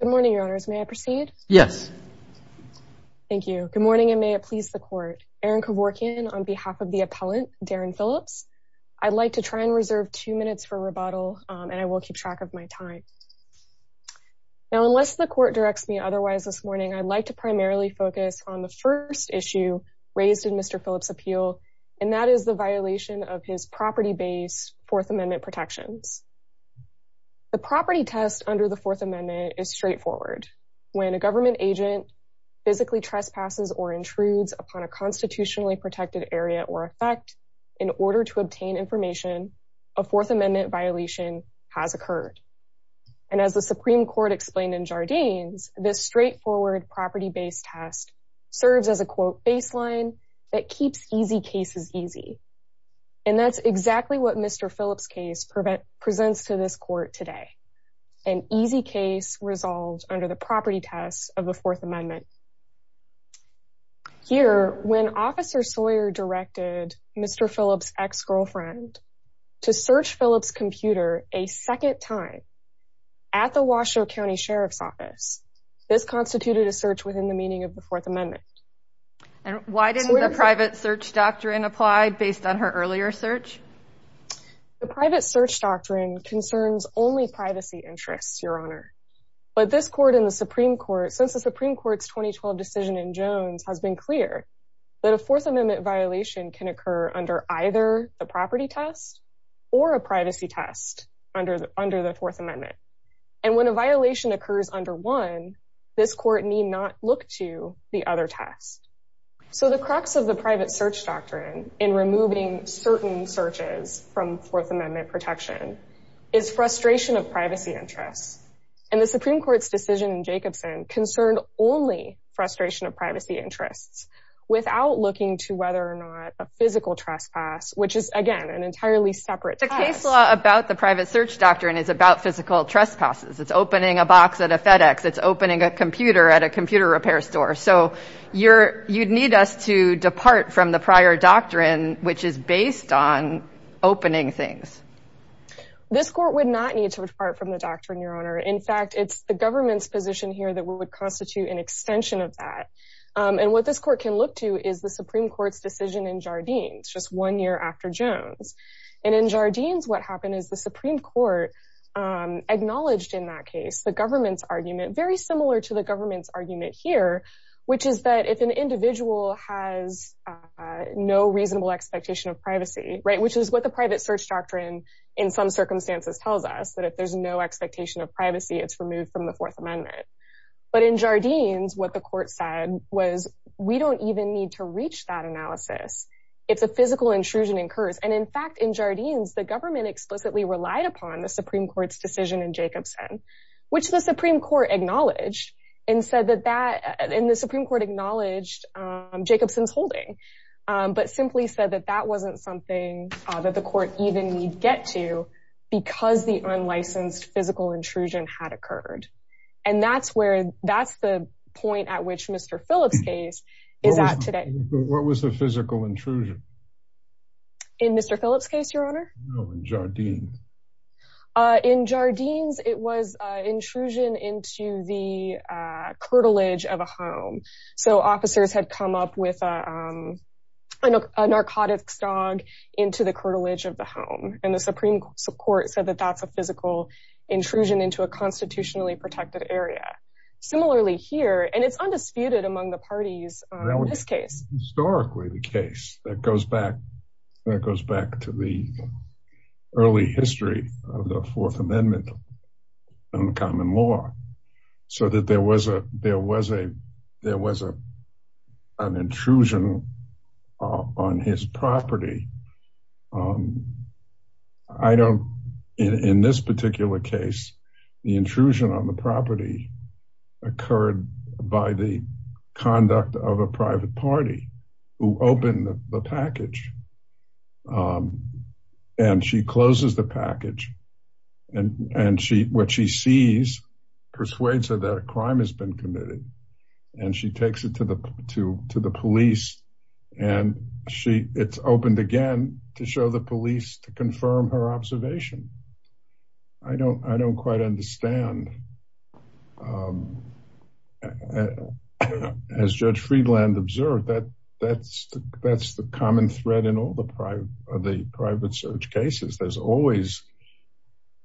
Good morning, your honors. May I proceed? Yes. Thank you. Good morning, and may it please the court. Erin Koworkian on behalf of the appellant, Daren Phillips. I'd like to try and reserve two minutes for rebuttal, and I will keep track of my time. Now, unless the court directs me otherwise this morning, I'd like to primarily focus on the first issue raised in Mr. Phillips' appeal, and that is the violation of his property-based Fourth Amendment protections. The property test under the Fourth Amendment is straightforward. When a government agent physically trespasses or intrudes upon a constitutionally protected area or effect in order to obtain information, a Fourth Amendment violation has occurred. And as the Supreme Court explained in Jardines, this straightforward property-based test serves as a, quote, baseline that keeps easy cases easy. And that's exactly what Mr. Phillips' case presents to this court today, an easy case resolved under the property test of the Fourth Amendment. Here, when Officer Sawyer directed Mr. Phillips' ex-girlfriend to search Phillips' computer a second time at the Washoe County Sheriff's Office, this constituted a search within the meaning of the Fourth Amendment. And why didn't the private search doctrine apply based on her earlier search? The private search doctrine concerns only privacy interests, Your Honor. But this court in the Supreme Court, since the Supreme Court's 2012 decision in Jones, has been clear that a Fourth Amendment violation can occur under either a property test or a privacy test under the Fourth Amendment. And when a violation occurs under one, this court need not look to the other test. So the crux of the private search doctrine in removing certain searches from Fourth Amendment protection is frustration of privacy interests. And the Supreme Court's decision in Jacobson concerned only frustration of privacy interests without looking to whether or not a physical trespass, which is, again, an entirely separate test. The case law about the private search doctrine is about physical trespasses. It's opening a box at a FedEx. It's opening a computer at a computer repair store. So you'd need us to depart from the prior doctrine, which is this court would not need to depart from the doctrine, Your Honor. In fact, it's the government's position here that we would constitute an extension of that. And what this court can look to is the Supreme Court's decision in Jardines just one year after Jones. And in Jardines, what happened is the Supreme Court acknowledged in that case, the government's argument very similar to the government's argument here, which is that if an individual has no reasonable expectation of privacy, right, which is what the private search doctrine, in some circumstances tells us that if there's no expectation of privacy, it's removed from the Fourth Amendment. But in Jardines, what the court said was, we don't even need to reach that analysis. It's a physical intrusion and curse. And in fact, in Jardines, the government explicitly relied upon the Supreme Court's decision in Jacobson, which the Supreme Court acknowledged and said that in the Supreme Court acknowledged Jacobson's holding, but simply said that that wasn't something that the court even need get to, because the unlicensed physical intrusion had occurred. And that's where that's the point at which Mr. Phillips case is at today. But what was the physical intrusion? In Jardines? In Jardines, it was intrusion into the curtilage of a home. So officers had come up with a narcotics dog into the curtilage of the home. And the Supreme Court said that that's a physical intrusion into a constitutionally protected area. Similarly here, and it's undisputed among the parties in this history of the Fourth Amendment and common law, so that there was a, there was a, there was a, an intrusion on his property. I don't, in this particular case, the intrusion on the property occurred by the conduct of a private party who opened the package. And she closes the package. And, and she, what she sees, persuades her that a crime has been committed. And she takes it to the to, to the police. And she, it's opened again to show the police to confirm her that's, that's the common thread in all the private, the private search cases. There's always,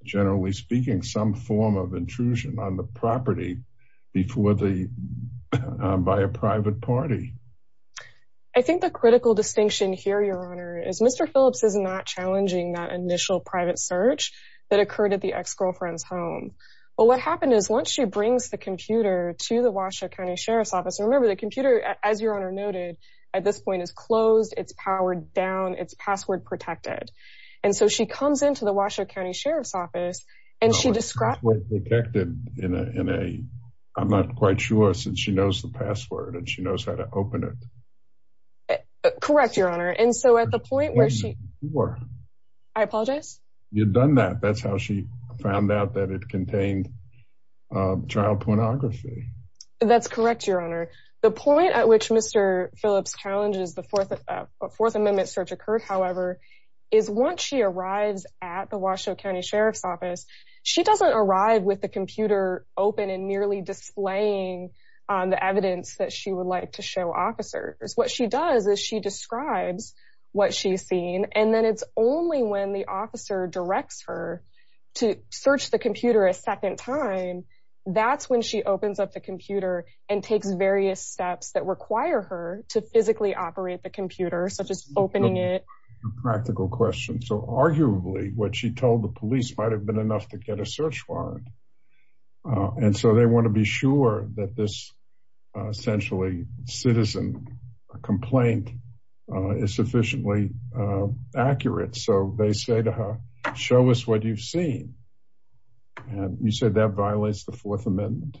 generally speaking, some form of intrusion on the property before the, by a private party. I think the critical distinction here, Your Honor, is Mr. Phillips is not challenging that initial private search that occurred at the ex-girlfriend's home. Well, what happened is once she brings the computer to the Washoe County Sheriff's Office, and remember, the computer, as Your Honor noted, at this point is closed, it's powered down, it's password protected. And so she comes into the Washoe County Sheriff's Office, and she describes- No, it's password protected in a, in a, I'm not quite sure, since she knows the password, and she knows how to open it. Correct, Your Honor. And so at the point where she- Sure. I apologize? You've done that. That's how she found out that it contained child pornography. That's correct, Your Honor. The point at which Mr. Phillips challenges the Fourth, Fourth Amendment search occurred, however, is once she arrives at the Washoe County Sheriff's Office, she doesn't arrive with the computer open and merely displaying the evidence that she would like to show officers. What she does is she describes what she's seen, and then it's only when the officer directs her to search the computer, and takes various steps that require her to physically operate the computer, such as opening it. Practical question. So arguably, what she told the police might have been enough to get a search warrant. And so they want to be sure that this, essentially, citizen complaint is sufficiently accurate. So they say to her, show us what you've seen. And you said that violates the Fourth Amendment.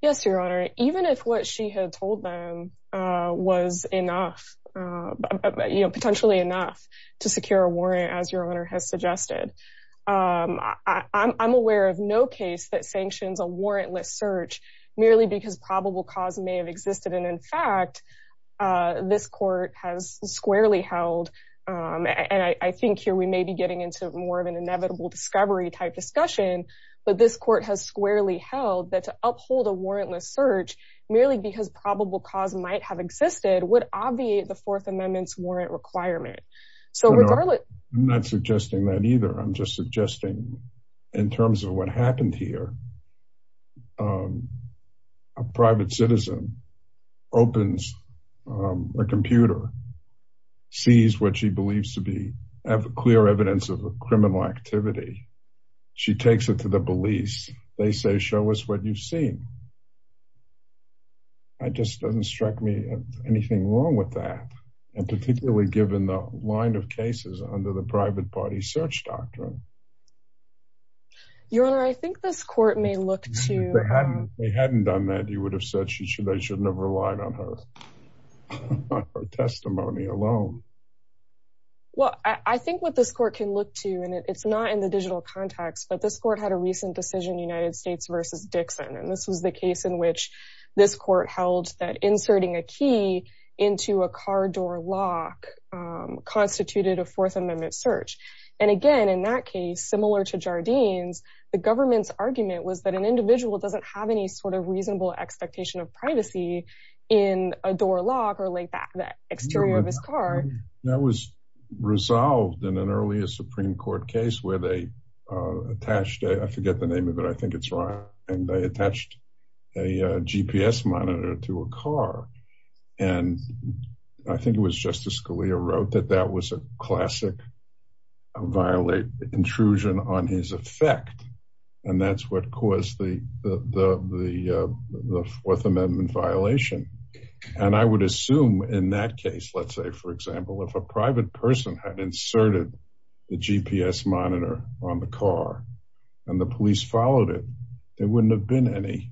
Yes, Your Honor. Even if what she had told them was enough, potentially enough to secure a warrant, as Your Honor has suggested, I'm aware of no case that sanctions a warrantless search merely because probable cause may have existed. And in fact, this court has squarely held, and I think here we may be getting into more of an inevitable discovery type discussion, but this court has squarely held that to uphold a warrantless search merely because probable cause might have existed would obviate the Fourth Amendment's warrant requirement. So regardless... I'm not suggesting that either. I'm just suggesting, in terms of what happened here, a private citizen opens a computer, sees what she believes to be clear evidence of a criminal activity. She takes it to the police. They say, show us what you've seen. That just doesn't strike me as anything wrong with that. And particularly given the line of cases under the private party search doctrine. Your Honor, I think this court may look to... If they hadn't done that, you would have said they should never have relied on her testimony alone. Well, I think what this court can look to, and it's not in the digital context, but this court had a recent decision, United States versus Dixon. And this was the case in which this court held that inserting a key into a car door lock constituted a Fourth Amendment search. And again, in that case, similar to Jardine's, the government's argument was that an individual doesn't have any sort of reasonable expectation of privacy in a door lock or the exterior of his car. That was resolved in an earlier Supreme Court case where they attached... I forget the name of it. I think it's Ryan. And they attached a GPS monitor to a car. And I think it was Justice Scalia wrote that that was a classic violate, intrusion on his effect. And that's what caused the Fourth Amendment violation. And I would have thought, for example, if a private person had inserted the GPS monitor on the car and the police followed it, there wouldn't have been any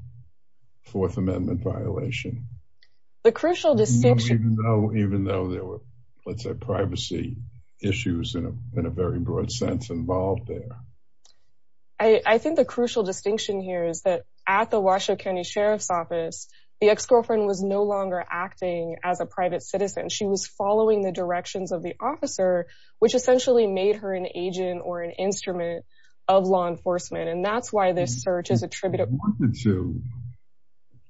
Fourth Amendment violation. The crucial distinction... Even though there were, let's say, privacy issues in a very broad sense involved there. I think the crucial distinction here is that at the Washoe County Sheriff's Office, the ex-girlfriend was no longer acting as a private citizen. She was following the directions of the officer, which essentially made her an agent or an instrument of law enforcement. And that's why this search is attributed... She wanted to.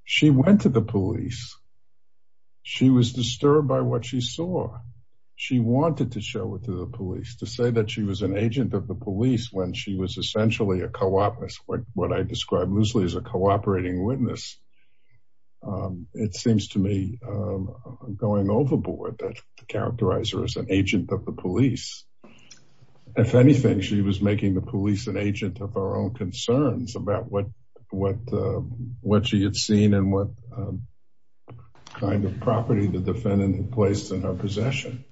She went to the police. She was disturbed by what she saw. She wanted to show it to the police. To say that she was an agent of the police when she was essentially a co-operative, what I describe loosely as a co-operating witness. It seems to me, going overboard, that characterizes her as an agent of the police. If anything, she was making the police an agent of her own concerns about what she had seen and what kind of property the defendant had placed in her possession.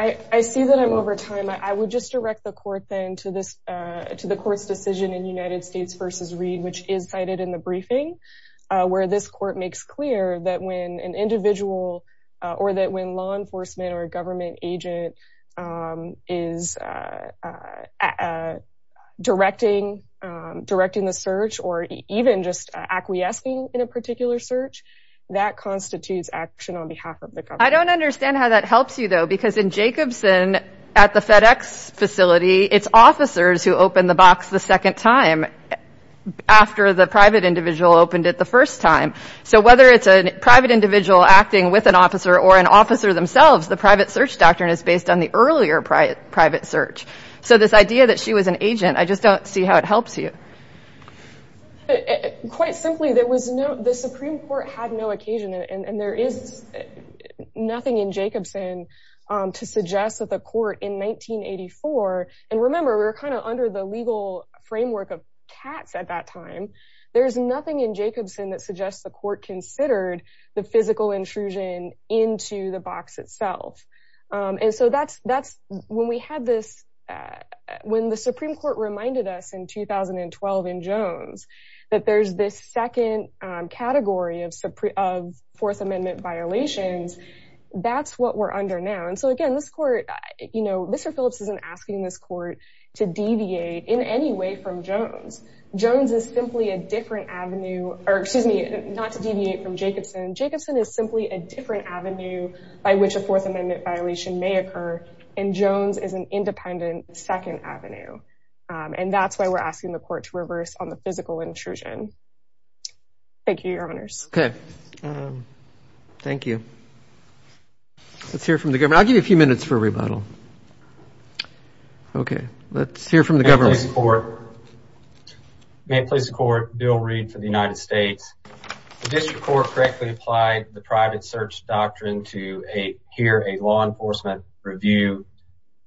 I see that I'm over time. I would just direct the court then to the court's decision in United States v. Reed, which is cited in the briefing, where this court makes clear that when an individual or that when law enforcement or a government agent is directing the search or even just acquiescing in a particular search, that constitutes action on behalf of the government. I don't understand how that helps you, though, because in Jacobson, at the FedEx facility, it's officers who open the box the second time after the private individual opened it the first time. So whether it's a private individual acting with an officer or an officer themselves, the private search doctrine is based on the earlier private search. So this idea that she was an agent, I just don't see how it helps you. Quite simply, the Supreme Court had no occasion, and there is nothing in And remember, we were kind of under the legal framework of cats at that time. There's nothing in Jacobson that suggests the court considered the physical intrusion into the box itself. And so that's when we had this, when the Supreme Court reminded us in 2012 in Jones, that there's this second category of Fourth Amendment violations. That's what we're under now. And so again, this court, you know, Mr. Phillips isn't asking this court to deviate in any way from Jones. Jones is simply a different avenue, or excuse me, not to deviate from Jacobson. Jacobson is simply a different avenue by which a Fourth Amendment violation may occur. And Jones is an independent second avenue. And that's why we're asking the court to reverse on the physical intrusion. Thank you, Your Honors. Thank you. Let's hear from the government. I'll give you a few minutes for a rebuttal. OK, let's hear from the government. May it please the court, Bill Reed for the United States. The district court correctly applied the private search doctrine to hear a law enforcement review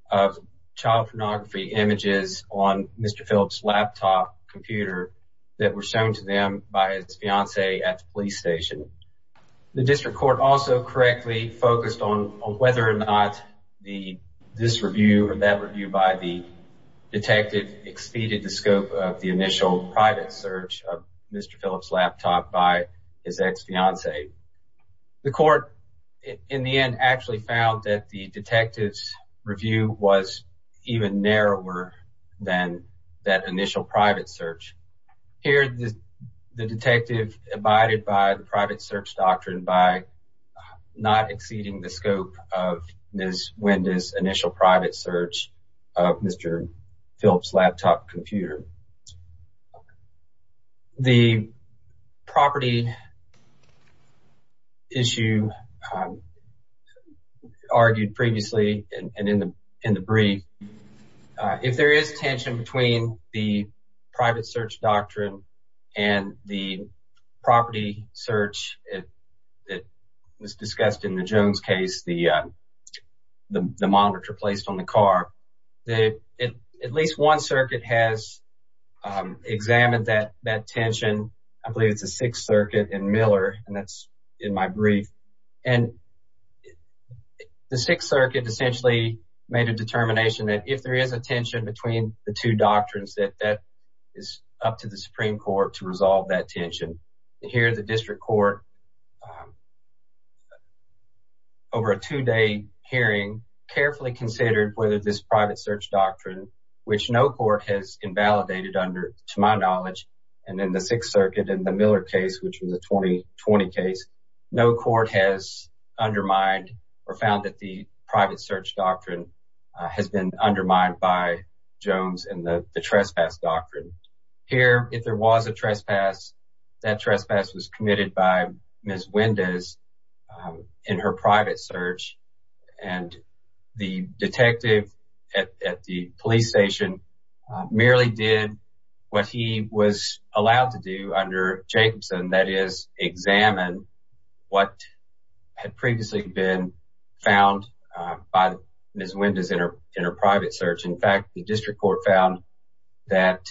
of child pornography images on Mr. Phillips' laptop computer that were shown to them by his fiancee at the police station. The district court also correctly focused on whether or not this review or that review by the detective exceeded the scope of the initial private search of Mr. Phillips' laptop by his ex-fiancee. The court, in the end, actually found that the detective's review was even narrower than that initial private search. Here, the detective abided by the private search doctrine by not exceeding the scope of Ms. Wenda's initial private search of Mr. Phillips' laptop computer. The property issue argued previously and in the brief, if there is tension between the private search doctrine and the property search that was discussed in the Jones case, the monitor placed on the car, at least one circuit has examined that tension. I believe it's the Sixth Circuit in Miller, and that's in my brief. And the Sixth Circuit essentially made a determination that if there is a tension between the two doctrines, that that is up to the Supreme Court to resolve that tension. Here, the district court, over a two-day hearing, carefully considered whether this private search doctrine, which no court has invalidated under, to my knowledge, and in the Sixth Circuit and the Miller case, which was a 2020 case, no court has undermined or found that the private search doctrine has been undermined by Jones and the trespass doctrine. Here, if there was a trespass, that trespass was committed by Ms. Wenda's in her private search, and the detective at the police station merely did what he was allowed to do under Jacobson, that is, examine what had previously been found by Ms. Wenda's in her private search. In fact, the district court found that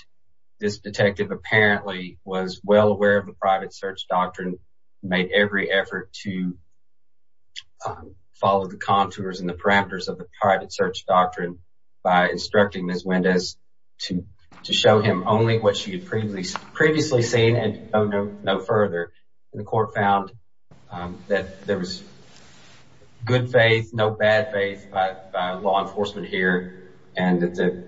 this detective apparently was well aware of the private search doctrine, made every effort to follow the contours and the parameters of the private search doctrine by instructing Ms. Wenda's to show him only what she had previously seen and no further. The court found that there was good faith, no bad faith, by law enforcement here, and that the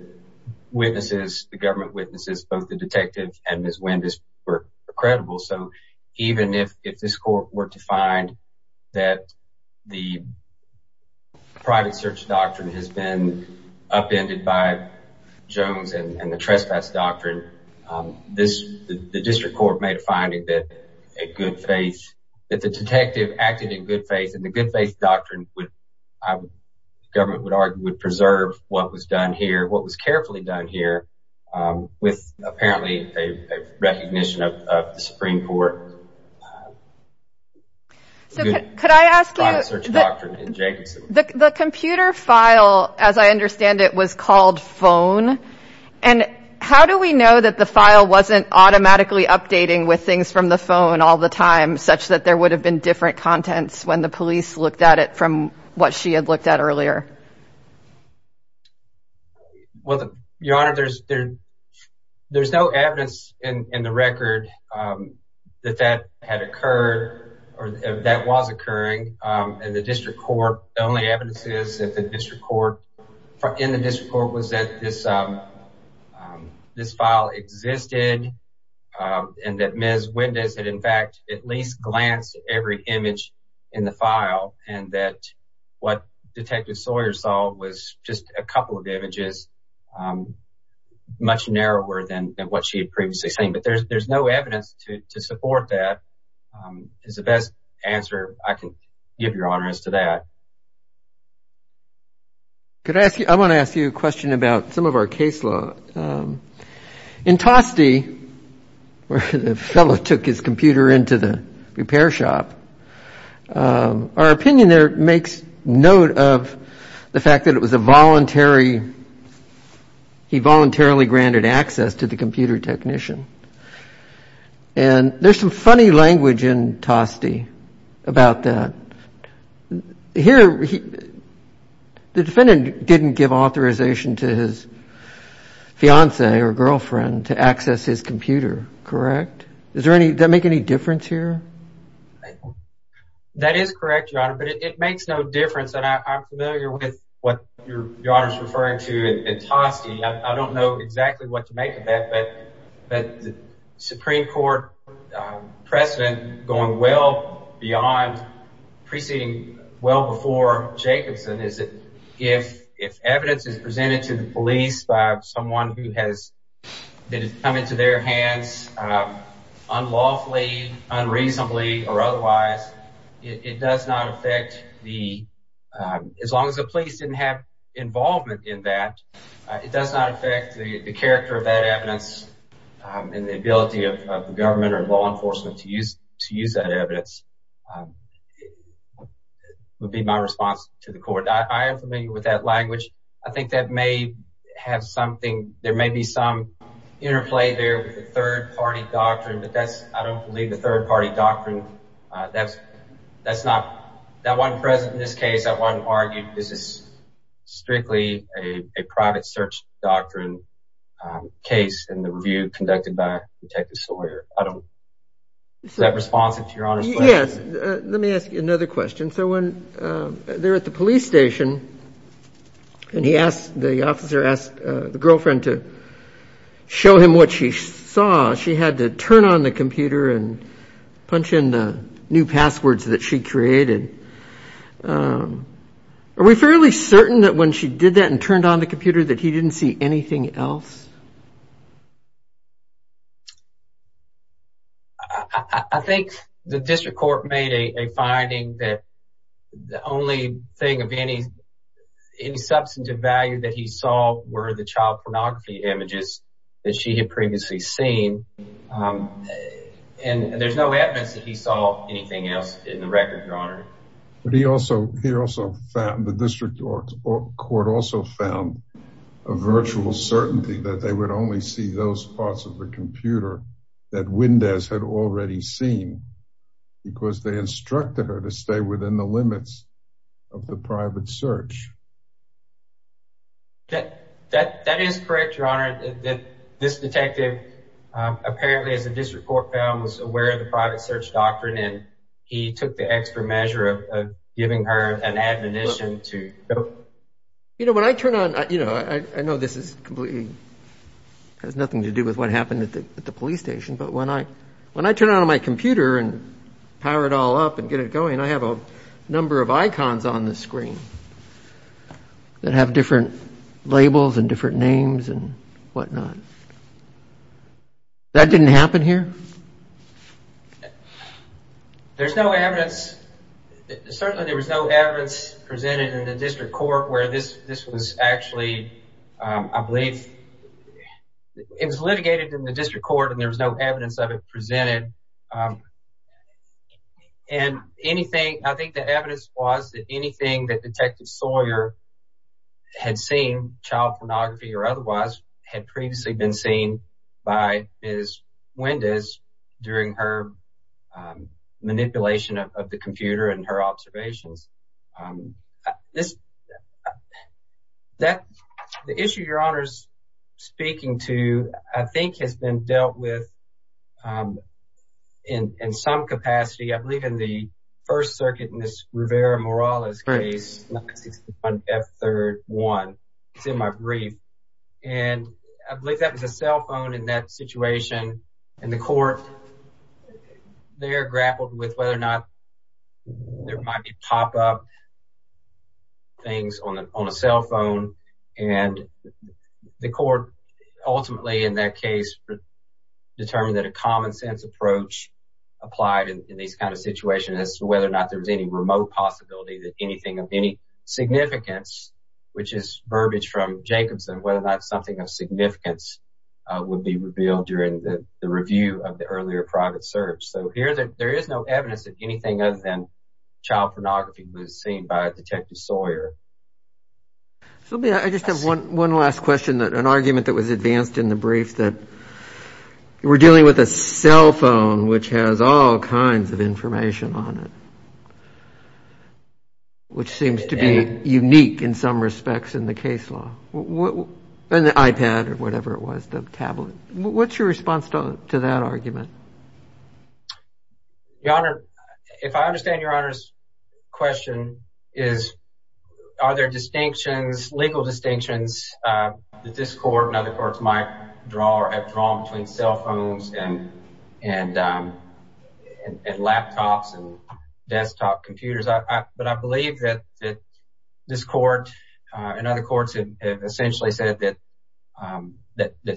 government witnesses, both the detective and Ms. Wenda's, were credible. So even if this court were to find that the private search doctrine has been upended by Jones and the trespass doctrine, the district court made a good faith, that the detective acted in good faith, and the good faith doctrine would, the government would argue, would preserve what was done here, what was carefully done here, with apparently a recognition of the Supreme Court. So could I ask you, the computer file, as I understand it, was called phone. And how do we know that the file wasn't automatically updating with things from the phone all the time, such that there would have been different contents when the police looked at it from what she had looked at earlier? Well, Your Honor, there's no evidence in the record that that had occurred or that was occurring in the district court. The only evidence is that the district court, in the district court, was that this file existed, and that Ms. Wenda's had, in fact, at least glanced every image in the file, and that what Detective Sawyer saw was just a couple of images, much narrower than what she had previously seen. But there's no evidence to support that, is the best answer I can give, Your Honor, as to that. Could I ask you, I want to ask you a question about some of our case law. In Toste, where the fellow took his computer into the repair shop, our opinion there makes note of the fact that it was a voluntary, he voluntarily granted access to the computer technician. And there's some funny language in Toste about that. Here, the defendant didn't give authorization to his fiance or girlfriend to access his computer, correct? Does that make any difference here? That is correct, Your Honor, but it makes no difference. And I'm familiar with what Your Honor is referring to in Toste. I don't know exactly what to make of that, but the Supreme Court precedent going well beyond, preceding well before Jacobson is that if evidence is presented to the police by someone who has had it come into their hands unlawfully, unreasonably or otherwise, it does not affect the, as long as the police didn't have involvement in that, it does not affect the character of that evidence and the ability of the government or law enforcement to use that evidence would be my response to the court. I am familiar with that language. I think that may have something, there may be some interplay there with the third party doctrine, but that's, I don't believe the third party doctrine. That's not, that wasn't present in this case. That wasn't argued. This is strictly a private search doctrine case in the review conducted by Detective Sawyer. I don't, is that responsive to Your Honor's question? Yes. Let me ask you another question. So when they're at the police station and he asked, the officer asked the girlfriend to show him what she saw, she had to turn on the computer and punch in the new passwords that she created. Are we fairly certain that when she did that and turned on the computer that he didn't see anything else? I think the district court made a finding that the only thing of any, any substantive value that he saw were the child pornography images that she had previously seen and there's no evidence that he saw anything else in the record, Your Honor. But he also, he also found, the district court also found a virtual certainty that they would only see those parts of the computer that Windez had already seen because they instructed her to stay within the limits of the private search. That, that, that is correct, Your Honor, that this detective apparently as a district court found was aware of the private search doctrine and he took the extra measure of giving her an admonition to go. You know, when I turn on, you know, I know this is completely, has nothing to do with what happened at the police station, but when I, when I turn on my computer and power it all up and get it going, I have a number of icons on the screen that have different labels and different names and whatnot. That didn't happen here? There's no evidence, certainly there was no evidence presented in the district court where this, this was actually, I believe it was litigated in the district court and there was no evidence of it presented and anything, I think the evidence was that anything that Detective Sawyer had seen, child pornography or otherwise, had previously been seen by Ms. Windez during her manipulation of the computer and her observations. The issue Your Honor's speaking to, I think has been dealt with in some capacity, I believe in the first circuit in this Rivera-Morales case, F3-1, it's in my brief, and I believe that was a cell phone in that situation and the court there grappled with whether or not there might be pop-up things on a cell phone. And the court ultimately in that case determined that a common sense approach applied in these kinds of situations as to whether or not there was any remote possibility that anything of any significance, which is verbiage from Jacobson, whether or not something of significance would be revealed during the review of the earlier private search. So here there is no evidence that anything other than child pornography was seen by Detective Sawyer. So I just have one last question, an argument that was advanced in the brief that we're dealing with a cell phone, which has all kinds of information on it, which seems to be unique in some respects in the case law, an iPad or whatever it was, the tablet. What's your response to that argument? Your Honor, if I understand Your Honor's question is, are there distinctions, legal distinctions that this court and other courts might draw or have drawn between cell phones and laptops and desktop computers? But I believe that this court and other courts have essentially said that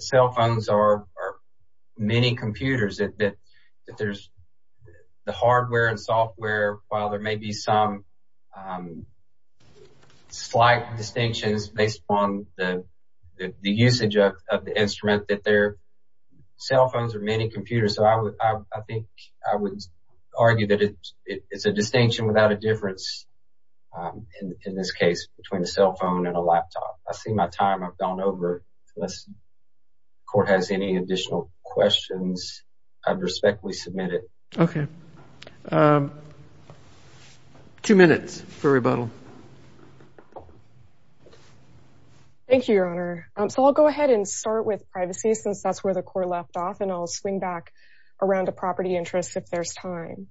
cell phones are many computers, that there's the hardware and software, while there may be some slight distinctions based upon the usage of the instrument, that they're cell phones are many computers. So I think I would argue that it's a distinction without a difference in this case between a cell phone and a laptop. I see my time. I've gone over it. Unless the court has any additional questions, I'd respectfully submit it. Okay. Two minutes for rebuttal. Thank you, Your Honor. So I'll go ahead and start with privacy since that's where the court left off, and I'll swing back around to property interests if there's time.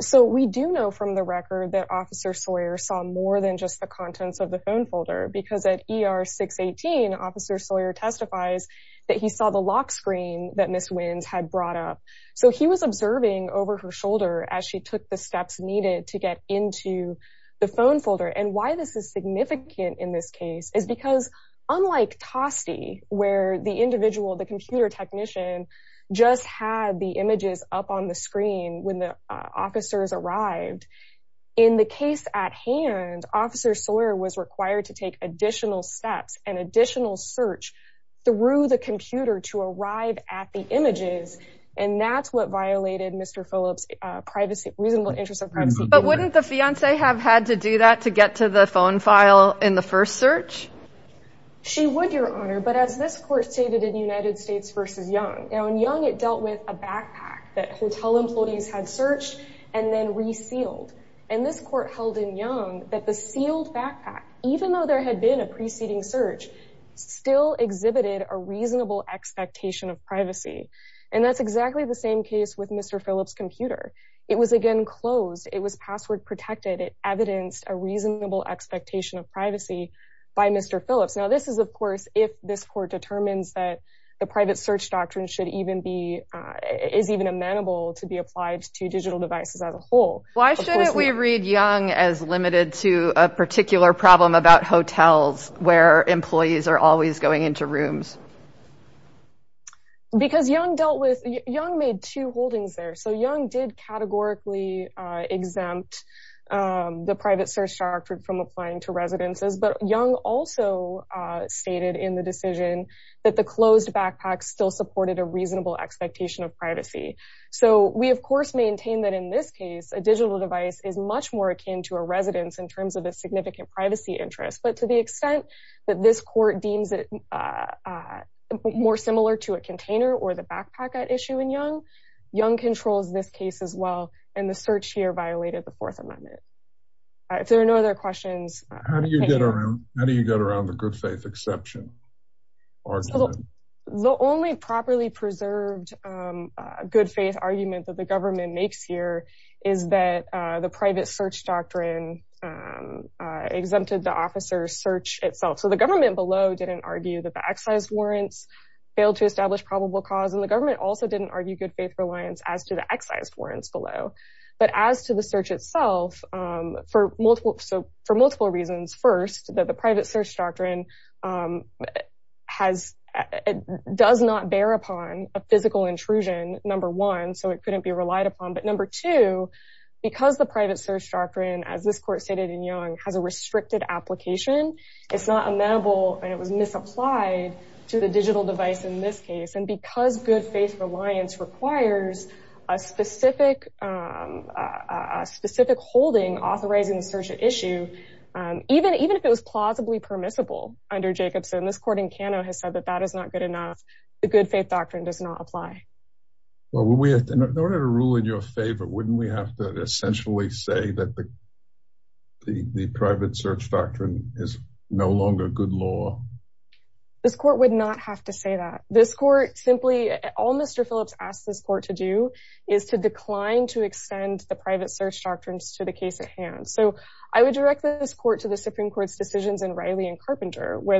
So we do know from the record that Officer Sawyer saw more than just the ER 618, Officer Sawyer testifies that he saw the lock screen that Ms. Wins had brought up, so he was observing over her shoulder as she took the steps needed to get into the phone folder. And why this is significant in this case is because unlike Toste, where the individual, the computer technician, just had the images up on the screen when the officers arrived, in the case at hand, Officer Sawyer was required to take additional steps and additional search through the computer to arrive at the images, and that's what violated Mr. Phillips' reasonable interest in privacy. But wouldn't the fiancee have had to do that to get to the phone file in the first search? She would, Your Honor. But as this court stated in United States v. Young, in Young, it dealt with a backpack that hotel employees had searched and then resealed. And this court held in Young that the sealed backpack, even though there had been a preceding search, still exhibited a reasonable expectation of privacy. And that's exactly the same case with Mr. Phillips' computer. It was again closed. It was password protected. It evidenced a reasonable expectation of privacy by Mr. Phillips. Now, this is, of course, if this court determines that the private search doctrine should even be, is even amenable to be applied to digital devices as a Why can't we read Young as limited to a particular problem about hotels where employees are always going into rooms? Because Young dealt with, Young made two holdings there. So Young did categorically exempt the private search doctrine from applying to residences. But Young also stated in the decision that the closed backpack still supported a reasonable expectation of privacy. So we, of course, maintain that in this case, a digital device is much more akin to a residence in terms of a significant privacy interest. But to the extent that this court deems it more similar to a container or the backpack at issue in Young, Young controls this case as well. And the search here violated the Fourth Amendment. If there are no other questions. How do you get around the good faith exception? Well, the only properly preserved good faith argument that the government makes here is that the private search doctrine exempted the officer's search itself. So the government below didn't argue that the excise warrants failed to establish probable cause. And the government also didn't argue good faith reliance as to the excise warrants below. But as to the search itself, for multiple so for multiple reasons, first, that the has it does not bear upon a physical intrusion, number one, so it couldn't be relied upon. But number two, because the private search doctrine, as this court stated in Young, has a restricted application, it's not amenable and it was misapplied to the digital device in this case. And because good faith reliance requires a specific, a specific holding authorizing the search at issue, even even if it was plausibly permissible under Jacobson, this court in Cano has said that that is not good enough. The good faith doctrine does not apply. Well, we have to in order to rule in your favor, wouldn't we have to essentially say that the the private search doctrine is no longer good law? This court would not have to say that this court simply all Mr. Phillips asked this court to do is to decline to extend the private search doctrines to the case at hand. So I would direct this court to the Supreme Court's decisions in Riley and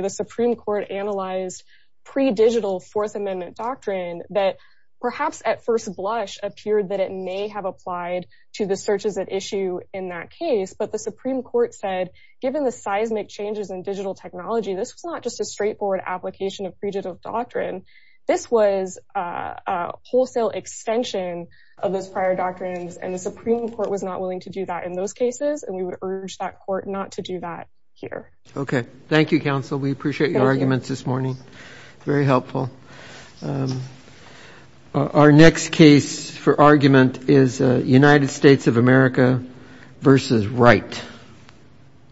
the Supreme Court analyzed pre-digital Fourth Amendment doctrine that perhaps at first blush appeared that it may have applied to the searches at issue in that case. But the Supreme Court said, given the seismic changes in digital technology, this was not just a straightforward application of pre-digital doctrine. This was a wholesale extension of those prior doctrines. And the Supreme Court was not willing to do that in those cases. And we would urge that court not to do that here. OK, thank you, counsel. We appreciate your arguments this morning. Very helpful. Our next case for argument is United States of America versus right.